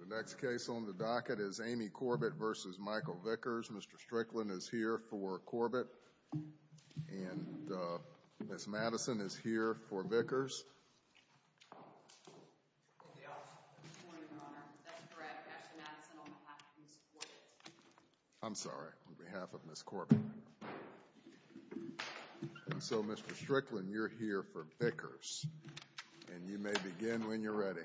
The next case on the docket is Amy Corbitt, et a v. Michael Vickers. Mr. Strickland is here for Corbitt. And Ms. Madison is here for Vickers. I'm sorry. On behalf of Ms. Corbitt. And so, Mr. Strickland, you're here for Vickers. And you may begin when you're ready.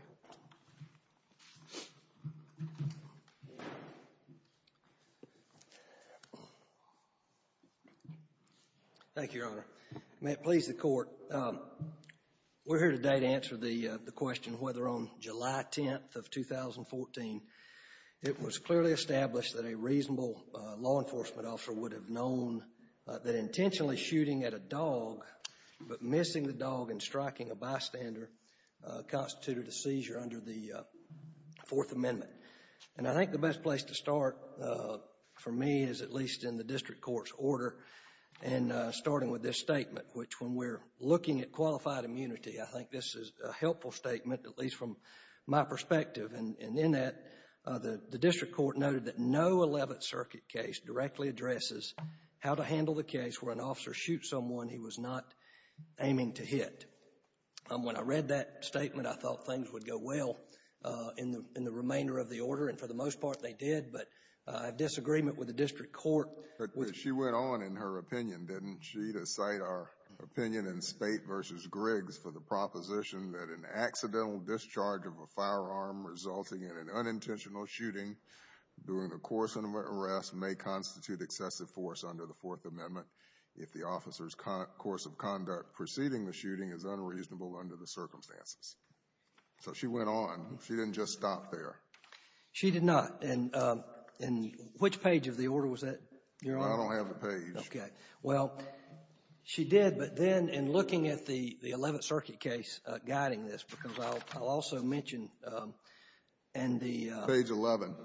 Thank you, Your Honor. May it please the Court, we're here today to answer the question whether on July 10th of 2014, it was clearly established that a reasonable law enforcement officer would have known that intentionally shooting at a dog, but missing the dog and striking a bystander, constituted a seizure under the Fourth Amendment. And I think the best place to start, for me, is at least in the District Court's order, and starting with this statement, which when we're looking at qualified immunity, I think this is a helpful statement, at least from my perspective. And in that, the District Court noted that no 11th Circuit case directly addresses how to handle the case where an officer shoots someone he was not aiming to hit. When I read that statement, I thought things would go well in the remainder of the order. And for the most part, they did. But I have disagreement with the District Court. But she went on in her opinion, didn't she, to cite our opinion in Spate v. Griggs for the proposition that an accidental discharge of a firearm resulting in an unintentional shooting during the course of an arrest may constitute excessive force under the Fourth Amendment if the officer's course of conduct preceding the shooting is unreasonable under the circumstances. So she went on. She didn't just stop there. She did not. And which page of the order was that, Your Honor? I don't have the page. Okay. Well, she did, but then in looking at the 11th Circuit case guiding this, because I'll also mention in the — Page 11.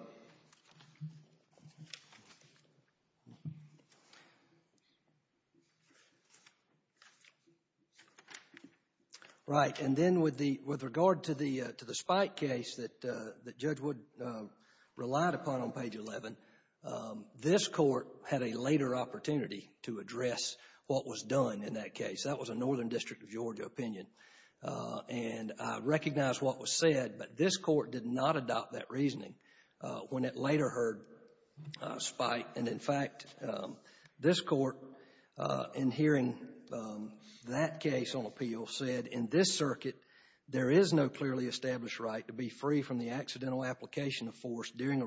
Right. And then with the — with regard to the Spike case that Judge Wood relied upon on page 11, this Court had a later opportunity to address what was done in that case. That was a Northern District of Georgia opinion. And I recognize what was said, but this Court did not adopt that reasoning when it later heard Spike. And, in fact, this Court, in hearing that case on appeal, said, in this circuit, there is no clearly established right to be free from the accidental application of force during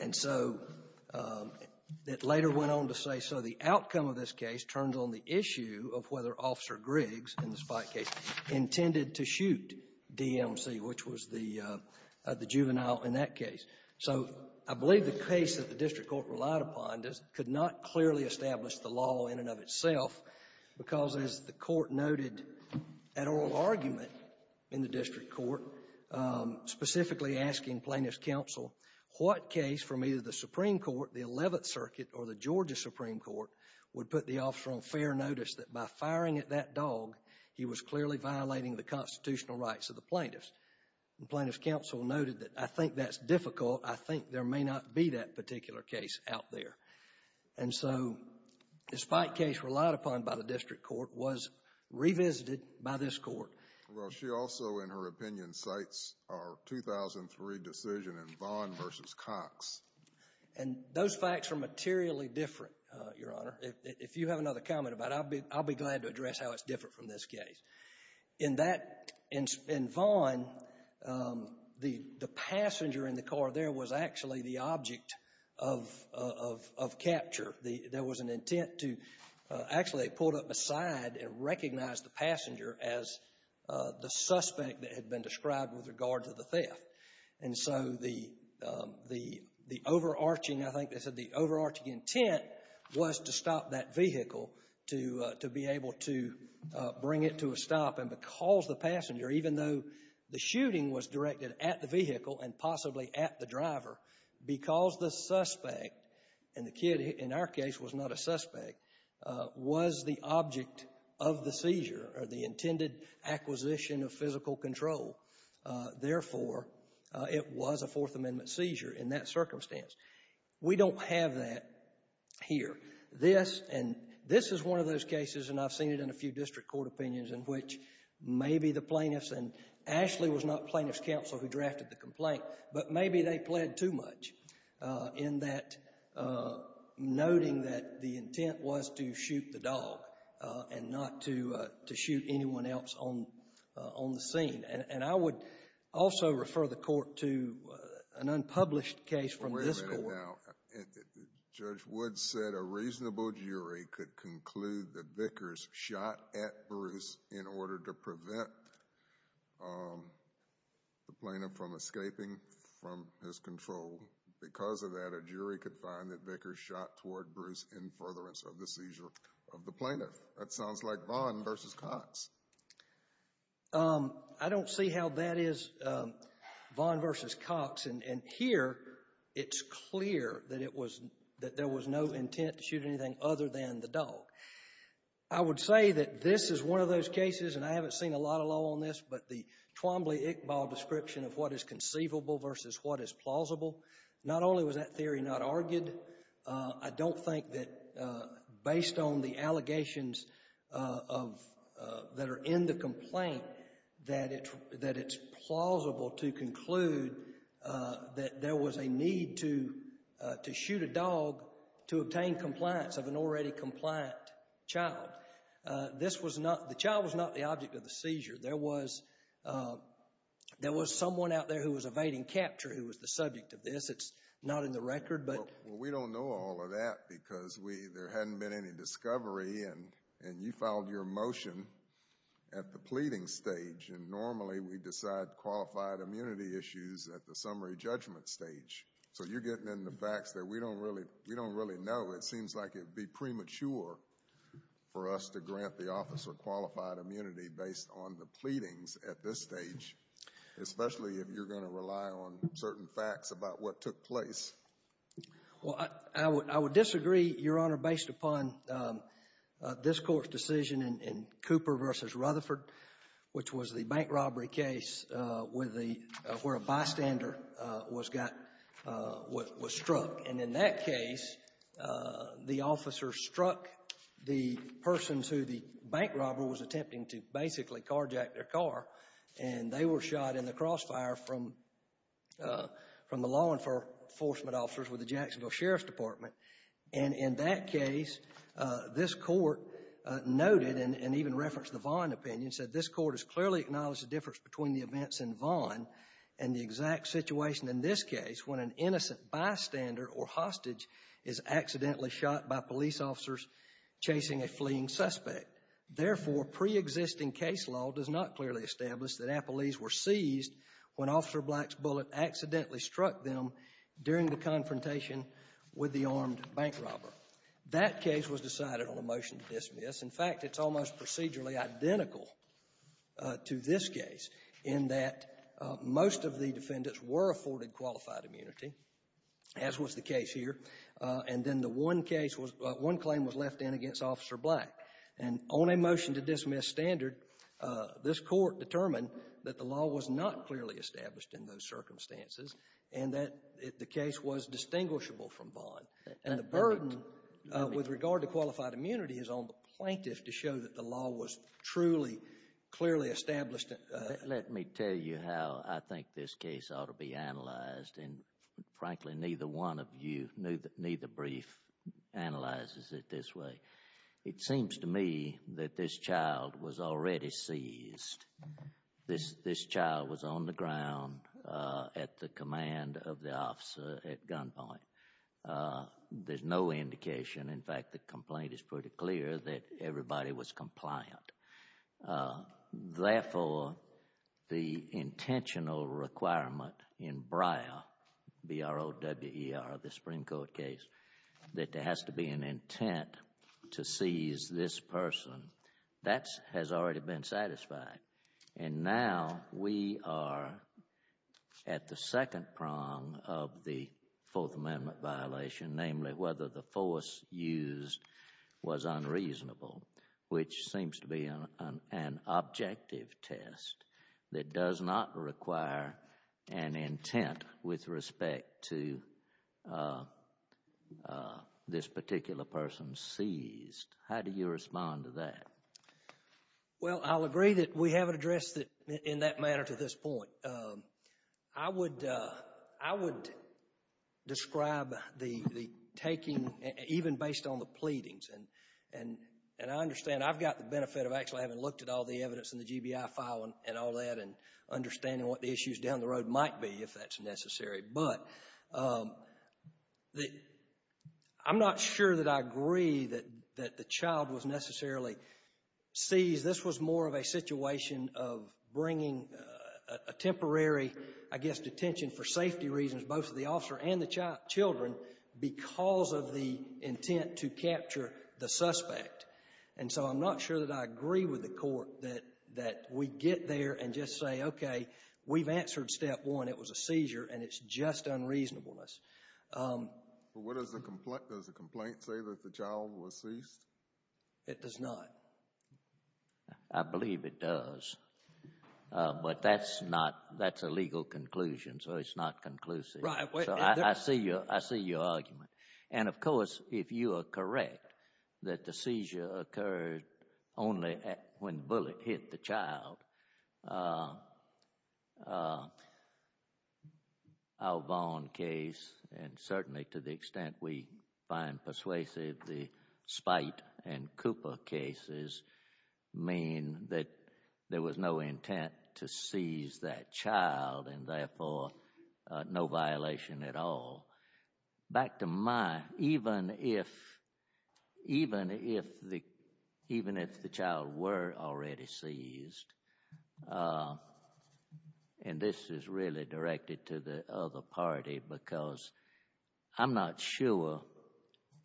And so it later went on to say, so the outcome of this case turns on the issue of whether Officer Griggs in the Spike case intended to shoot DMC, which was the juvenile in that case. So I believe the case that the district court relied upon could not clearly establish the law in and of itself because, as the Court noted at oral argument in the district court, specifically asking plaintiffs' counsel what case from either the Supreme Court, the Eleventh Circuit, or the Georgia Supreme Court would put the officer on fair notice that by firing at that dog, he was clearly violating the constitutional rights of the plaintiffs. And plaintiffs' counsel noted that, I think that's difficult. I think there may not be that particular case out there. And so the Spike case relied upon by the district court was revisited by this court. Well, she also, in her opinion, cites our 2003 decision in Vaughn v. Cox. And those facts are materially different, Your Honor. If you have another comment about it, I'll be glad to address how it's different from this case. In that, in Vaughn, the passenger in the car there was actually the object of capture. There was an intent to actually pull it up aside and recognize the passenger as the suspect that had been described with regard to the theft. And so the overarching, I think they said the overarching intent was to stop that vehicle, to be able to bring it to a stop. And because the passenger, even though the shooting was directed at the vehicle and possibly at the driver, because the suspect, and the kid in our case was not a suspect, was the object of the seizure or the intended acquisition of physical control, therefore, it was a Fourth Amendment seizure in that circumstance. We don't have that here. This, and this is one of those cases, and I've seen it in a few district court opinions, in which maybe the plaintiffs, and Ashley was not plaintiffs' counsel who drafted the complaint, but maybe they pled too much in that noting that the intent was to shoot the dog and not to shoot anyone else on the scene. And I would also refer the court to an unpublished case from this court. Wait a minute now. Judge Woods said a reasonable jury could conclude that Vickers shot at Bruce in furtherance of the seizure of the plaintiff from escaping from his control. Because of that, a jury could find that Vickers shot toward Bruce in furtherance of the seizure of the plaintiff. That sounds like Vaughn versus Cox. I don't see how that is Vaughn versus Cox. And here it's clear that it was, that there was no intent to shoot anything other than the dog. I would say that this is one of those cases, and I haven't seen a lot of law on this, but the Twombly-Iqbal description of what is conceivable versus what is plausible, not only was that theory not argued, I don't think that based on the allegations of, that are in the complaint, that it's plausible to conclude that there was a need to shoot a dog to obtain compliance of an already compliant child. This was not, the child was not the object of the seizure. There was someone out there who was evading capture who was the subject of this. It's not in the record. Well, we don't know all of that because there hadn't been any discovery, and you filed your motion at the pleading stage, and normally we decide qualified immunity issues at the summary judgment stage. So you're getting into facts that we don't really know. It seems like it would be premature for us to grant the officer qualified immunity based on the pleadings at this stage, especially if you're going to rely on certain facts about what took place. Well, I would disagree, Your Honor, based upon this Court's decision in Cooper versus Rutherford, which was the bank robbery case where a bystander was struck. And in that case, the officer struck the person who the bank robber was attempting to basically carjack their car, and they were shot in the crossfire from the law enforcement officers with the Jacksonville Sheriff's Department. And in that case, this Court noted and even referenced the Vaughn opinion, said this Court has clearly acknowledged the difference between the events in Vaughn and the exact situation in this case when an innocent bystander or hostage is accidentally shot by police officers chasing a fleeing suspect. Therefore, preexisting case law does not clearly establish that appellees were seized when Officer Black's bullet accidentally struck them during the confrontation with the armed bank robber. That case was decided on a motion to dismiss. In fact, it's almost procedurally identical to this case in that most of the defendants were afforded qualified immunity, as was the case here. And then the one case was one claim was left in against Officer Black. And on a motion to dismiss standard, this Court determined that the law was not clearly established in those circumstances and that the case was distinguishable from Vaughn. And the burden with regard to qualified immunity is on the plaintiff to show that the law was truly clearly established. Let me tell you how I think this case ought to be analyzed. And frankly, neither one of you, neither brief analyzes it this way. It seems to me that this child was already seized. This child was on the ground at the command of the officer at gunpoint. There's no indication. In fact, the complaint is pretty clear that everybody was compliant. Therefore, the intentional requirement in Brier, B-R-O-W-E-R, the Supreme Court case, that there has to be an intent to seize this person, that has already been satisfied. And now we are at the second prong of the Fourth Amendment violation, namely whether the force used was unreasonable, which seems to be an objective test that does not require an intent with respect to this particular person seized. How do you respond to that? Well, I'll agree that we haven't addressed it in that manner to this point. I would describe the taking, even based on the pleadings. And I understand I've got the benefit of actually having looked at all the evidence in the GBI file and all that and understanding what the issues down the road might be, if that's necessary. But I'm not sure that I agree that the child was necessarily seized. This was more of a situation of bringing a temporary, I guess, detention for safety reasons, both to the officer and the children, because of the intent to capture the suspect. And so I'm not sure that I agree with the Court that we get there and just say, okay, we've answered step one, it was a seizure, and it's just unreasonableness. But does the complaint say that the child was seized? It does not. I believe it does. But that's a legal conclusion, so it's not conclusive. So I see your argument. And, of course, if you are correct that the seizure occurred only when the bullet hit the child, our Vaughn case, and certainly to the extent we find persuasive the Spite and Cooper cases, mean that there was no intent to seize that child and, therefore, no violation at all. Back to my, even if the child were already seized, and this is really directed to the other party because I'm not sure,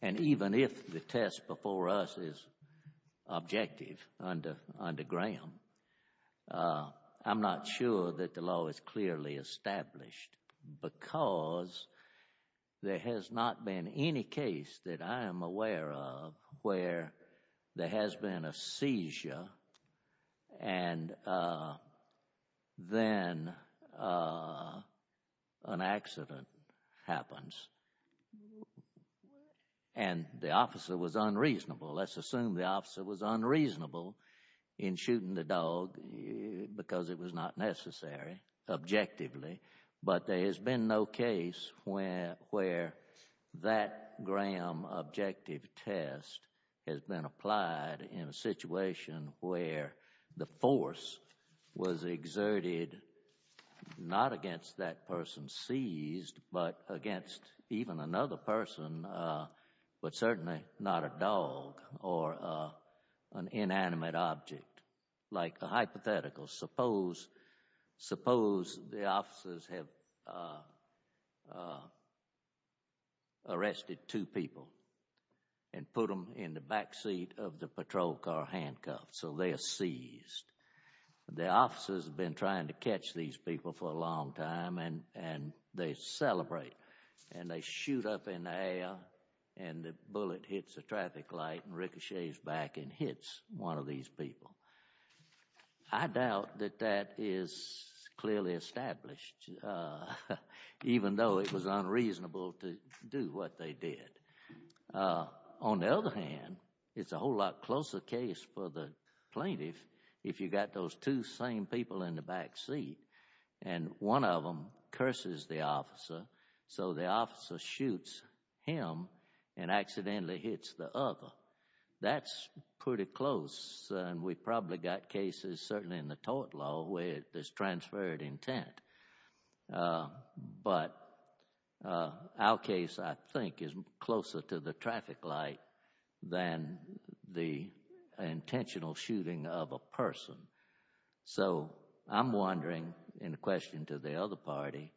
and even if the test before us is objective under Graham, I'm not sure that the law is clearly established because there has not been any case that I am aware of where there has been a seizure and then an accident happens and the officer was unreasonable. Let's assume the officer was unreasonable in shooting the dog because it was not necessary, objectively. But there has been no case where that Graham objective test has been applied in a situation where the force was exerted not against that person seized, but against even another person, but certainly not a dog or an inanimate object. Like a hypothetical, suppose the officers have arrested two people and put them in the back seat of the patrol car handcuffed, so they are seized. The officers have been trying to catch these people for a long time and they celebrate and they shoot up in the air and the bullet hits a traffic light and ricochets back and hits one of these people. I doubt that that is clearly established, even though it was unreasonable to do what they did. On the other hand, it is a whole lot closer case for the plaintiff if you got those two same people in the back seat and one of them curses the officer so the officer shoots him and accidentally hits the other. That is pretty close and we probably got cases, certainly in the tort law, where there is transferred intent. But our case, I think, is closer to the traffic light than the intentional shooting of a person. So I am wondering, in question to the other party,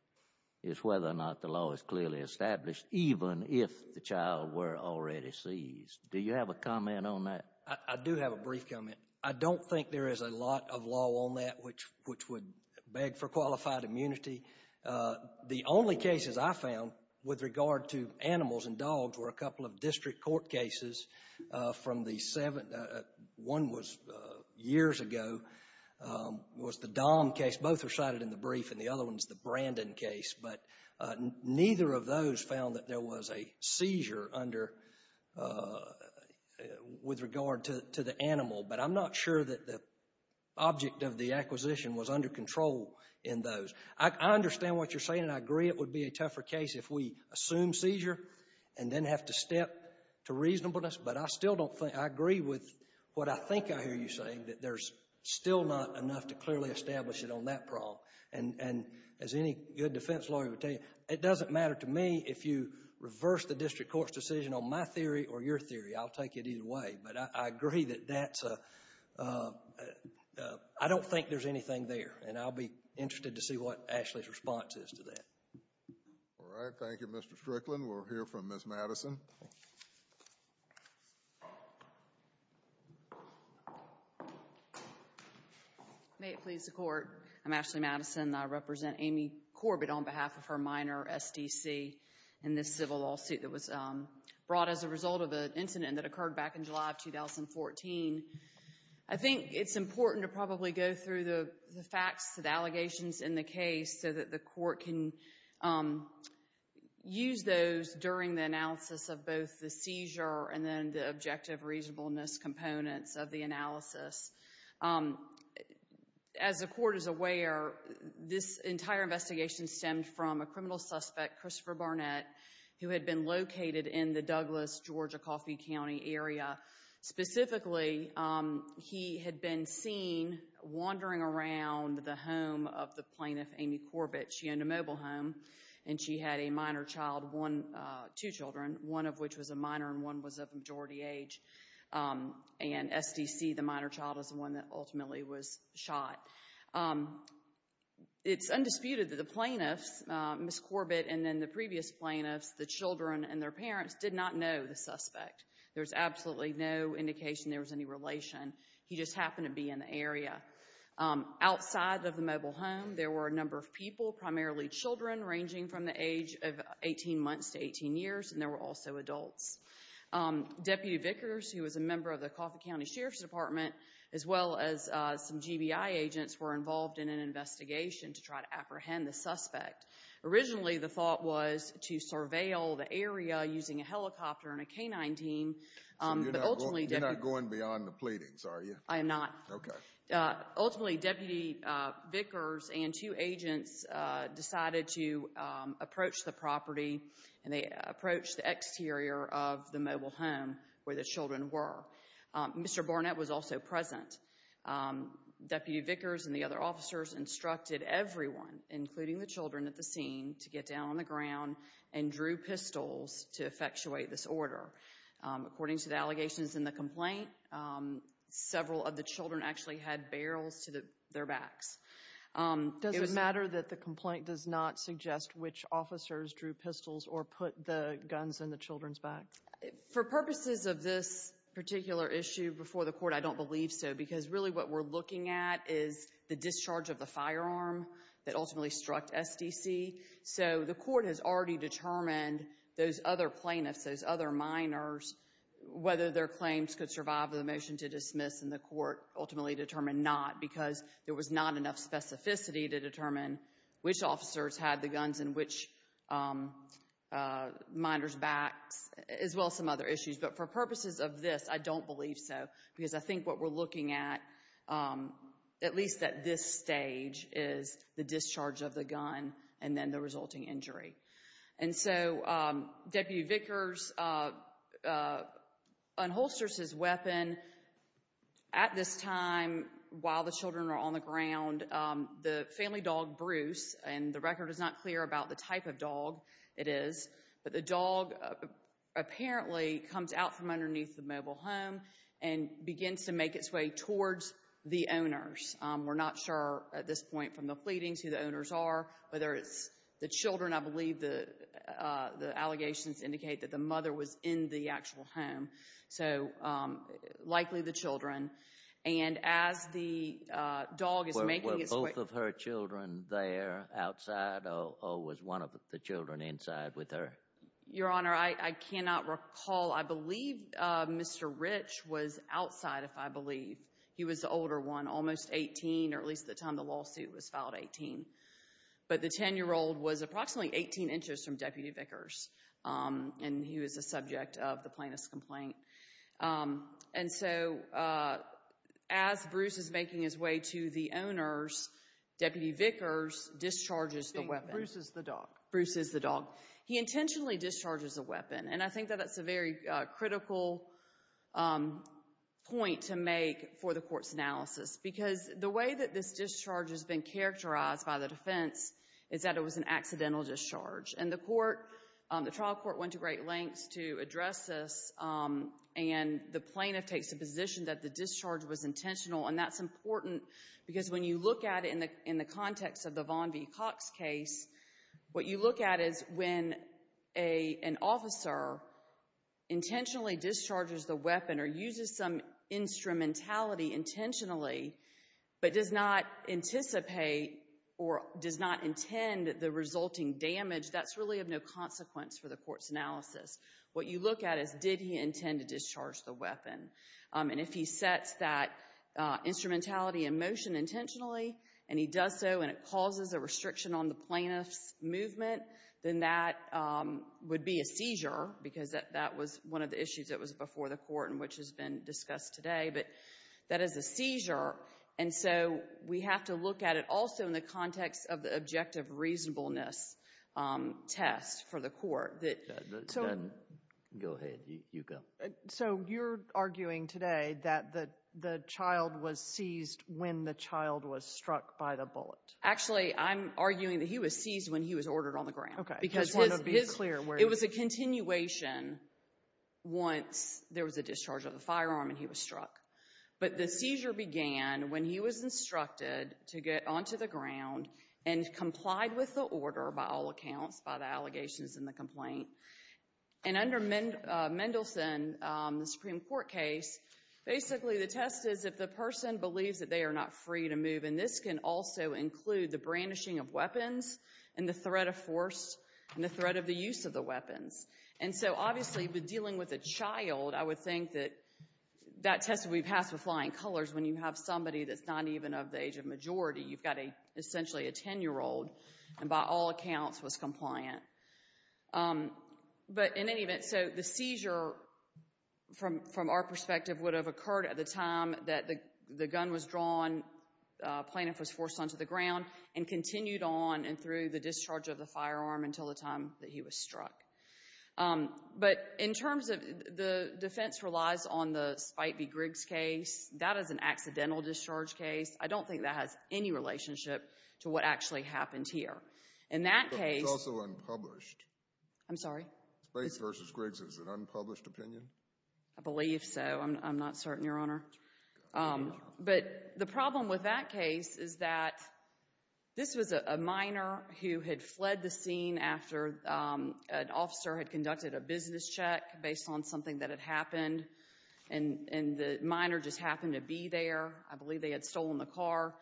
is whether or not the law is clearly established even if the child were already seized. Do you have a comment on that? I do have a brief comment. I don't think there is a lot of law on that which would beg for qualified immunity. The only cases I found with regard to animals and dogs were a couple of district court cases. One was years ago, was the Dom case. Both were cited in the brief and the other one is the Brandon case. But neither of those found that there was a seizure with regard to the animal. But I am not sure that the object of the acquisition was under control in those. I understand what you are saying and I agree it would be a tougher case if we assume seizure and then have to step to reasonableness. But I still don't think, I agree with what I think I hear you saying, that there is still not enough to clearly establish it on that problem. And as any good defense lawyer would tell you, it doesn't matter to me if you reverse the district court's decision on my theory or your theory. I will take it either way. But I agree that that is a, I don't think there is anything there. And I will be interested to see what Ashley's response is to that. All right. Thank you, Mr. Strickland. We will hear from Ms. Madison. Thank you. May it please the court. I'm Ashley Madison and I represent Amy Corbett on behalf of her minor SDC in this civil lawsuit that was brought as a result of an incident that occurred back in July of 2014. I think it's important to probably go through the facts, the allegations in the case, so that the court can use those during the analysis of both the seizure and then the objective reasonableness components of the analysis. As the court is aware, this entire investigation stemmed from a criminal suspect, Christopher Barnett, who had been located in the Douglas, Georgia, Coffey County area. Specifically, he had been seen wandering around the home of the plaintiff, Amy Corbett. She owned a mobile home and she had a minor child, two children, one of which was a minor and one was of majority age. And SDC, the minor child, was the one that ultimately was shot. It's undisputed that the plaintiffs, Ms. Corbett and then the previous plaintiffs, the children and their parents, did not know the suspect. There's absolutely no indication there was any relation. He just happened to be in the area. Outside of the mobile home, there were a number of people, primarily children, ranging from the age of 18 months to 18 years, and there were also adults. Deputy Vickers, who was a member of the Coffey County Sheriff's Department, as well as some GBI agents, were involved in an investigation to try to apprehend the suspect. Originally, the thought was to surveil the area using a helicopter and a canine team. So you're not going beyond the pleadings, are you? I am not. Okay. Ultimately, Deputy Vickers and two agents decided to approach the property and they approached the exterior of the mobile home where the children were. Mr. Barnett was also present. Deputy Vickers and the other officers instructed everyone, including the children at the scene, to get down on the ground and drew pistols to effectuate this order. According to the allegations in the complaint, several of the children actually had barrels to their backs. Does it matter that the complaint does not suggest which officers drew pistols or put the guns in the children's backs? For purposes of this particular issue before the court, I don't believe so because really what we're looking at is the discharge of the firearm that ultimately struck SDC. So the court has already determined those other plaintiffs, those other minors, whether their claims could survive the motion to dismiss, and the court ultimately determined not because there was not enough specificity to determine which officers had the guns in which minors' backs as well as some other issues. But for purposes of this, I don't believe so because I think what we're looking at, at least at this stage, is the discharge of the gun and then the resulting injury. And so Deputy Vickers unholsters his weapon. At this time, while the children are on the ground, the family dog, Bruce, and the record is not clear about the type of dog it is, but the dog apparently comes out from underneath the mobile home and begins to make its way towards the owners. We're not sure at this point from the pleadings who the owners are, whether it's the children. I believe the allegations indicate that the mother was in the actual home. So likely the children. And as the dog is making its way— Were both of her children there outside, or was one of the children inside with her? Your Honor, I cannot recall. I believe Mr. Rich was outside, if I believe. He was the older one, almost 18, or at least at the time the lawsuit was filed, 18. But the 10-year-old was approximately 18 inches from Deputy Vickers, and he was the subject of the plaintiff's complaint. And so as Bruce is making his way to the owners, Deputy Vickers discharges the weapon. Bruce is the dog. Bruce is the dog. He intentionally discharges the weapon, and I think that that's a very critical point to make for the Court's analysis because the way that this discharge has been characterized by the defense is that it was an accidental discharge. And the trial court went to great lengths to address this, and the plaintiff takes the position that the discharge was intentional, and that's important because when you look at it in the context of the Von V. Cox case, what you look at is when an officer intentionally discharges the weapon or uses some instrumentality intentionally but does not anticipate or does not intend the resulting damage, that's really of no consequence for the Court's analysis. What you look at is did he intend to discharge the weapon. And if he sets that instrumentality in motion intentionally and he does so and it causes a restriction on the plaintiff's movement, then that would be a seizure because that was one of the issues that was before the Court and which has been discussed today. But that is a seizure, and so we have to look at it also in the context of the objective reasonableness test for the Court. Go ahead. You go. So you're arguing today that the child was seized when the child was struck by the bullet. Actually, I'm arguing that he was seized when he was ordered on the ground. Okay. I just wanted to be clear. It was a continuation once there was a discharge of the firearm and he was struck. But the seizure began when he was instructed to get onto the ground and complied with the order by all accounts, by the allegations and the complaint. And under Mendelsohn, the Supreme Court case, basically the test is if the person believes that they are not free to move, and this can also include the brandishing of weapons and the threat of force and the threat of the use of the weapons. And so, obviously, with dealing with a child, I would think that that test would be passed with flying colors when you have somebody that's not even of the age of majority. You've got essentially a 10-year-old, and by all accounts was compliant. But in any event, so the seizure, from our perspective, would have occurred at the time that the gun was drawn, the plaintiff was forced onto the ground and continued on and through the discharge of the firearm until the time that he was struck. But in terms of the defense relies on the Spite v. Griggs case, that is an accidental discharge case. I don't think that has any relationship to what actually happened here. In that case— But it's also unpublished. I'm sorry? Spite v. Griggs is an unpublished opinion? I believe so. I'm not certain, Your Honor. But the problem with that case is that this was a minor who had fled the scene after an officer had conducted a business check based on something that had happened, and the minor just happened to be there. I believe they had stolen the car.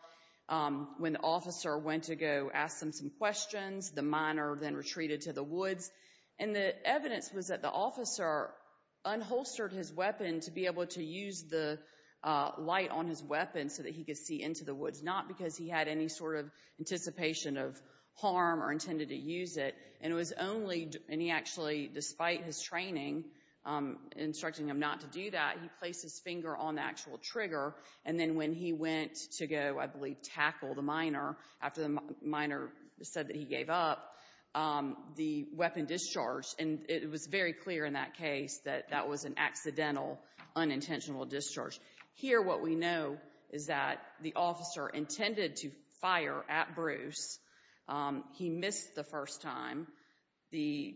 When the officer went to go ask them some questions, the minor then retreated to the woods. And the evidence was that the officer unholstered his weapon to be able to use the light on his weapon so that he could see into the woods, not because he had any sort of anticipation of harm or intended to use it. And it was only—and he actually, despite his training instructing him not to do that, he placed his finger on the actual trigger. And then when he went to go, I believe, tackle the minor, after the minor said that he gave up, the weapon discharged. And it was very clear in that case that that was an accidental, unintentional discharge. Here what we know is that the officer intended to fire at Bruce. He missed the first time. The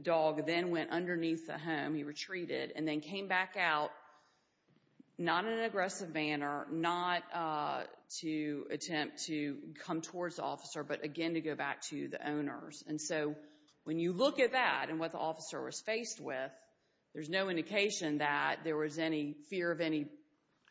dog then went underneath the home. He retreated and then came back out, not in an aggressive manner, not to attempt to come towards the officer, but again to go back to the owners. And so when you look at that and what the officer was faced with, there's no indication that there was any fear of any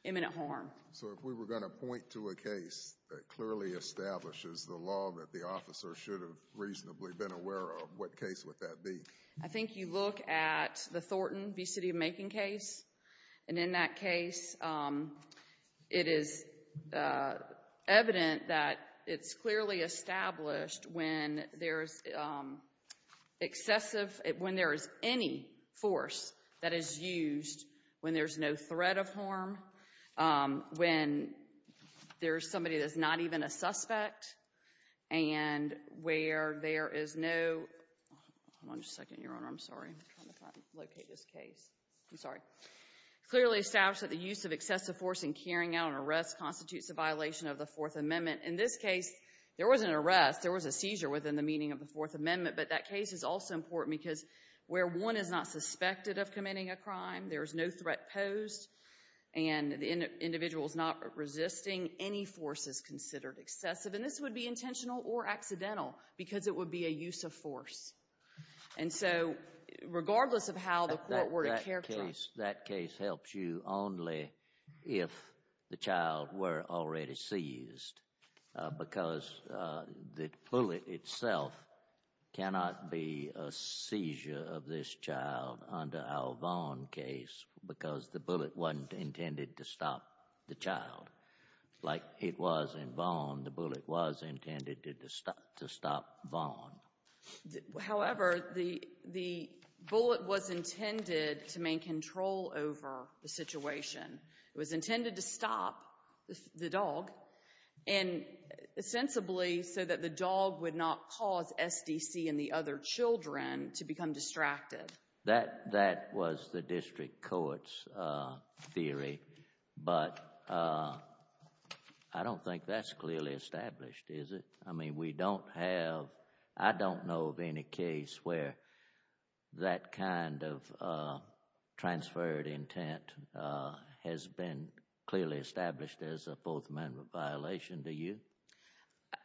imminent harm. So if we were going to point to a case that clearly establishes the law that the officer should have reasonably been aware of, what case would that be? I think you look at the Thornton v. City of Macon case. And in that case, it is evident that it's clearly established when there's excessive, when there is any force that is used, when there's no threat of harm, when there's somebody that's not even a suspect, and where there is no, hold on just a second, Your Honor. I'm sorry. I'm trying to locate this case. I'm sorry. Clearly established that the use of excessive force in carrying out an arrest constitutes a violation of the Fourth Amendment. In this case, there was an arrest. There was a seizure within the meaning of the Fourth Amendment. But that case is also important because where one is not suspected of committing a crime, there is no threat posed, and the individual is not resisting, any force is considered excessive. And this would be intentional or accidental because it would be a use of force. And so regardless of how the court were to characterize it. That case helps you only if the child were already seized, because the bullet itself cannot be a seizure of this child under our Vaughan case because the bullet wasn't intended to stop the child. Like it was in Vaughan, the bullet was intended to stop Vaughan. However, the bullet was intended to maintain control over the situation. It was intended to stop the dog and sensibly so that the dog would not cause SDC and the other children to become distracted. That was the district court's theory. But I don't think that's clearly established, is it? I mean, we don't have, I don't know of any case where that kind of transferred intent has been clearly established as a Fourth Amendment violation. Do you?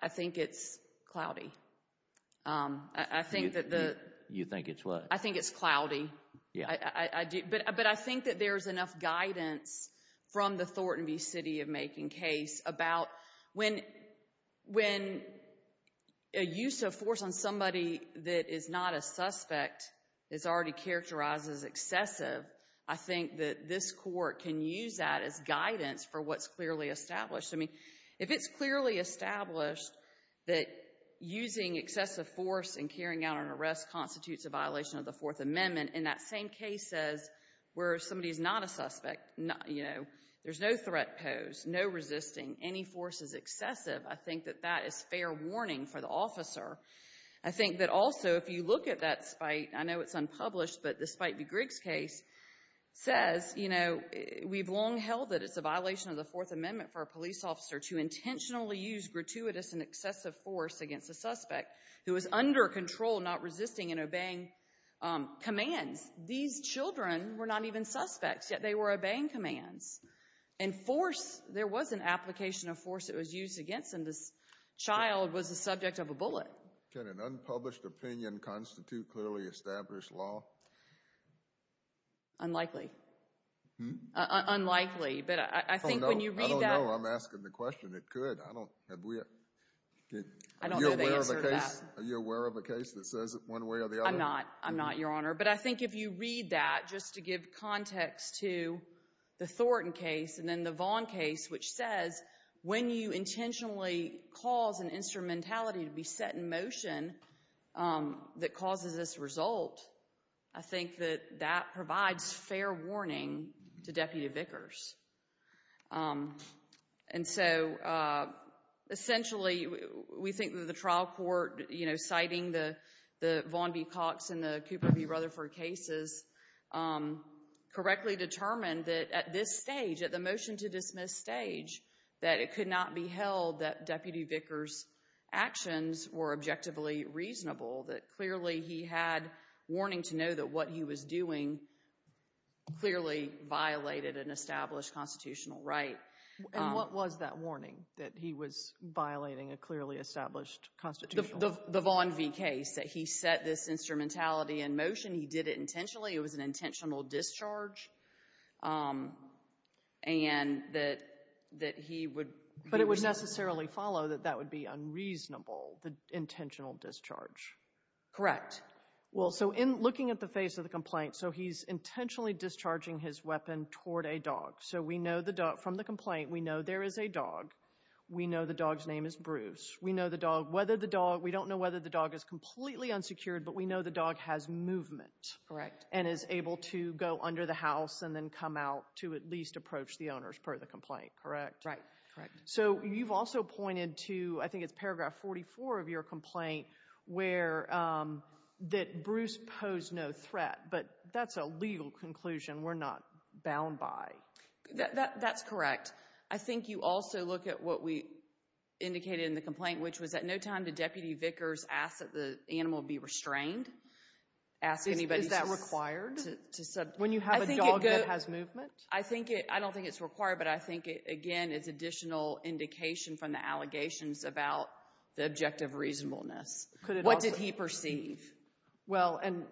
I think it's cloudy. You think it's what? I think it's cloudy. But I think that there's enough guidance from the Thornton v. City of Making case about when a use of force on somebody that is not a suspect is already characterized as excessive, I think that this court can use that as guidance for what's clearly established. I mean, if it's clearly established that using excessive force and carrying out an arrest constitutes a violation of the Fourth Amendment, and that same case says where somebody is not a suspect, there's no threat posed, no resisting, any force is excessive, I think that that is fair warning for the officer. I think that also if you look at that spite, I know it's unpublished, but the Spite v. Griggs case says, you know, we've long held that it's a violation of the Fourth Amendment for a police officer to intentionally use gratuitous and excessive force against a suspect who is under control, not resisting and obeying commands. These children were not even suspects, yet they were obeying commands. And force, there was an application of force that was used against them. This child was the subject of a bullet. Can an unpublished opinion constitute clearly established law? Unlikely. Unlikely, but I think when you read that... I don't know. I'm asking the question. It could. I don't know the answer to that. Are you aware of a case that says it one way or the other? I'm not, Your Honor. But I think if you read that, just to give context to the Thornton case and then the Vaughn case, which says, when you intentionally cause an instrumentality to be set in motion that causes this result, I think that that provides fair warning to Deputy Vickers. And so, essentially, we think that the trial court, citing the Vaughn v. Cox and the Cooper v. Rutherford cases, correctly determined that at this stage, at the motion-to-dismiss stage, that it could not be held that Deputy Vickers' actions were objectively reasonable, that clearly he had warning to know that what he was doing clearly violated an established constitutional right. And what was that warning, that he was violating a clearly established constitutional right? The Vaughn v. Case, that he set this instrumentality in motion. He did it intentionally. It was an intentional discharge, and that he would... But it would necessarily follow that that would be unreasonable, the intentional discharge. Correct. Well, so in looking at the face of the complaint, so he's intentionally discharging his weapon toward a dog. So we know from the complaint, we know there is a dog. We know the dog's name is Bruce. We know the dog, whether the dog, we don't know whether the dog is completely unsecured, but we know the dog has movement. Correct. And is able to go under the house and then come out to at least approach the owners per the complaint, correct? Right, correct. So you've also pointed to, I think it's paragraph 44 of your complaint, that Bruce posed no threat. But that's a legal conclusion. We're not bound by. That's correct. I think you also look at what we indicated in the complaint, which was at no time did Deputy Vickers ask that the animal be restrained. Is that required? When you have a dog that has movement? I don't think it's required, but I think, again, it's additional indication from the allegations about the objective reasonableness. What did he perceive? Well, and,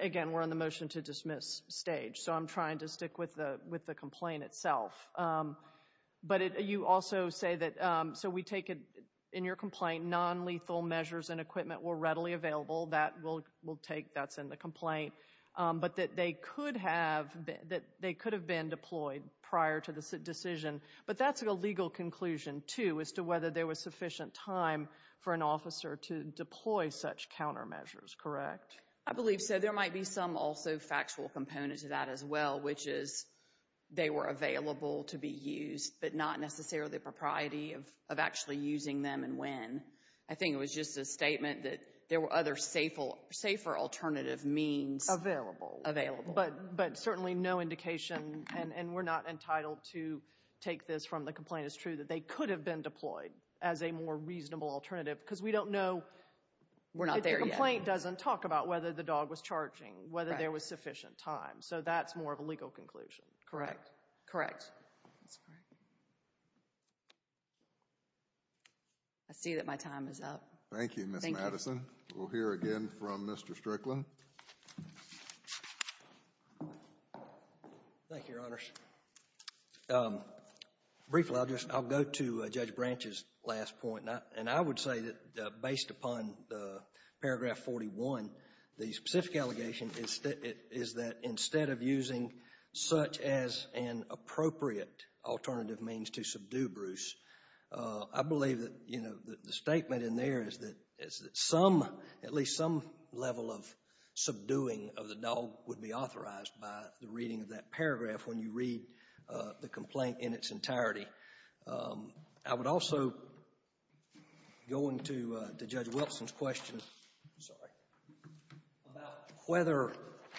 again, we're in the motion to dismiss stage, so I'm trying to stick with the complaint itself. But you also say that, so we take it in your complaint, nonlethal measures and equipment were readily available. That's in the complaint. But that they could have been deployed prior to the decision. But that's a legal conclusion, too, as to whether there was sufficient time for an officer to deploy such countermeasures, correct? I believe so. There might be some also factual component to that as well, which is they were available to be used but not necessarily the propriety of actually using them and when. I think it was just a statement that there were other safer alternative means. Available. Available. But certainly no indication, and we're not entitled to take this from the complaint. It's true that they could have been deployed as a more reasonable alternative because we don't know. We're not there yet. The complaint doesn't talk about whether the dog was charging, whether there was sufficient time, so that's more of a legal conclusion. Correct. Correct. That's correct. I see that my time is up. Thank you, Ms. Madison. Thank you. We'll hear again from Mr. Strickland. Thank you, Your Honors. Briefly, I'll go to Judge Branch's last point, and I would say that based upon the paragraph 41, the specific allegation is that instead of using such as an appropriate alternative means to subdue Bruce, I believe that, you know, the statement in there is that some, at least some level of subduing of the dog would be authorized by the reading of that paragraph when you read the complaint in its entirety. I would also go into Judge Wilson's question, sorry, about whether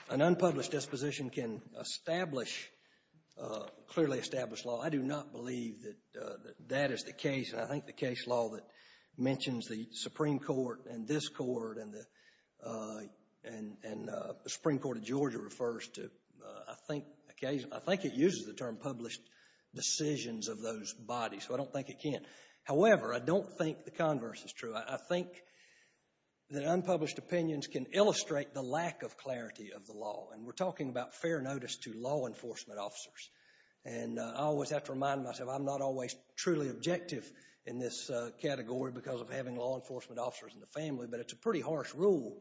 an unpublished disposition can establish, clearly establish law. I do not believe that that is the case. I think the case law that mentions the Supreme Court and this Court and the Supreme Court of Georgia refers to, I think, I think it uses the term published decisions of those bodies, so I don't think it can. However, I don't think the converse is true. I think that unpublished opinions can illustrate the lack of clarity of the law, and we're talking about fair notice to law enforcement officers, and I always have to remind myself I'm not always truly objective in this category because of having law enforcement officers in the family, but it's a pretty harsh rule.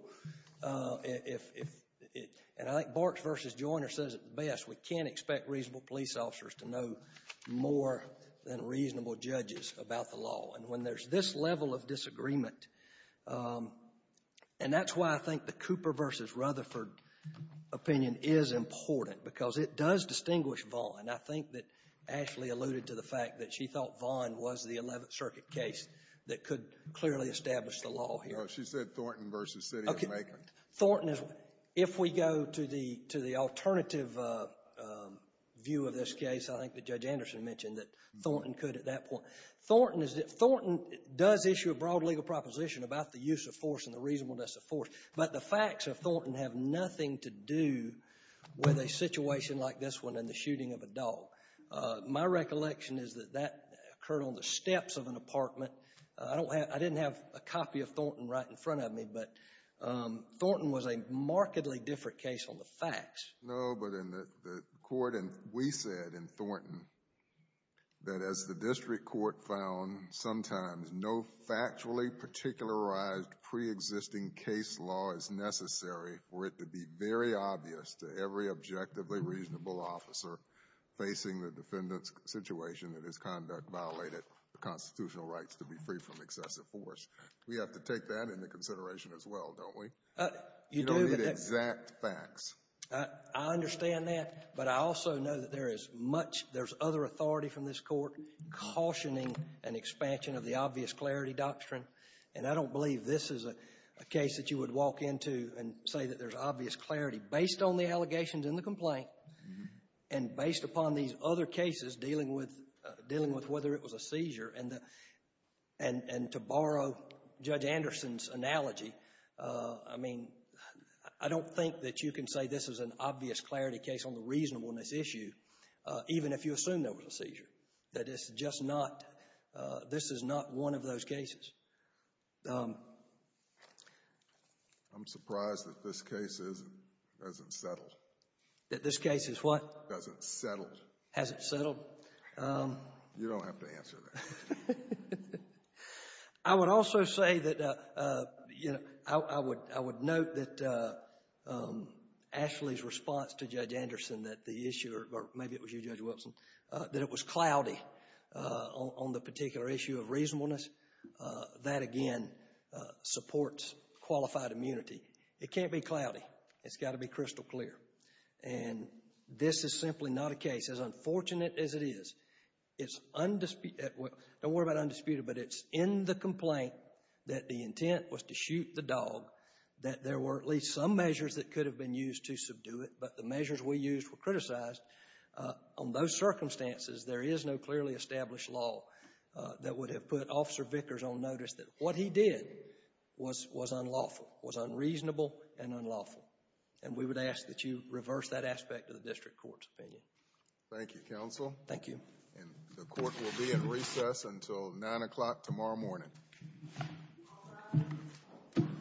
And I think Barks v. Joyner says it best. We can't expect reasonable police officers to know more than reasonable judges about the law, and when there's this level of disagreement, and that's why I think the Cooper v. Rutherford opinion is important because it does distinguish Vaughn. I think that Ashley alluded to the fact that she thought Vaughn was the Eleventh Circuit case that could clearly establish the law here. She said Thornton v. City of Macon. If we go to the alternative view of this case, I think that Judge Anderson mentioned that Thornton could at that point. Thornton does issue a broad legal proposition about the use of force and the reasonableness of force, but the facts of Thornton have nothing to do with a situation like this one and the shooting of a dog. My recollection is that that occurred on the steps of an apartment. I didn't have a copy of Thornton right in front of me, but Thornton was a markedly different case on the facts. No, but in the court, and we said in Thornton, that as the district court found sometimes no factually particularized preexisting case law is necessary for it to be very obvious to every objectively reasonable officer facing the defendant's situation that his conduct violated the constitutional rights to be free from excessive force. We have to take that into consideration as well, don't we? You don't need exact facts. I understand that, but I also know that there is much other authority from this Court cautioning an expansion of the obvious clarity doctrine. And I don't believe this is a case that you would walk into and say that there's obvious clarity based on the allegations in the complaint and based upon these other cases dealing with whether it was a seizure. And to borrow Judge Anderson's analogy, I mean, I don't think that you can say this is an obvious clarity case on the reasonableness issue, even if you assume there was a seizure, that it's just not, this is not one of those cases. I'm surprised that this case isn't settled. That this case is what? Hasn't settled. Hasn't settled. You don't have to answer that. I would also say that, you know, I would note that Ashley's response to Judge Anderson that the issue, or maybe it was you, Judge Wilson, that it was cloudy on the particular issue of reasonableness. That, again, supports qualified immunity. It can't be cloudy. It's got to be crystal clear. And this is simply not a case. As unfortunate as it is, it's, don't worry about undisputed, but it's in the complaint that the intent was to shoot the dog, that there were at least some measures that could have been used to subdue it, but the measures we used were criticized. On those circumstances, there is no clearly established law that would have put Officer Vickers on notice that what he did was unlawful, was unreasonable and unlawful. And we would ask that you reverse that aspect of the district court's opinion. Thank you, counsel. Thank you. And the court will be in recess until 9 o'clock tomorrow morning.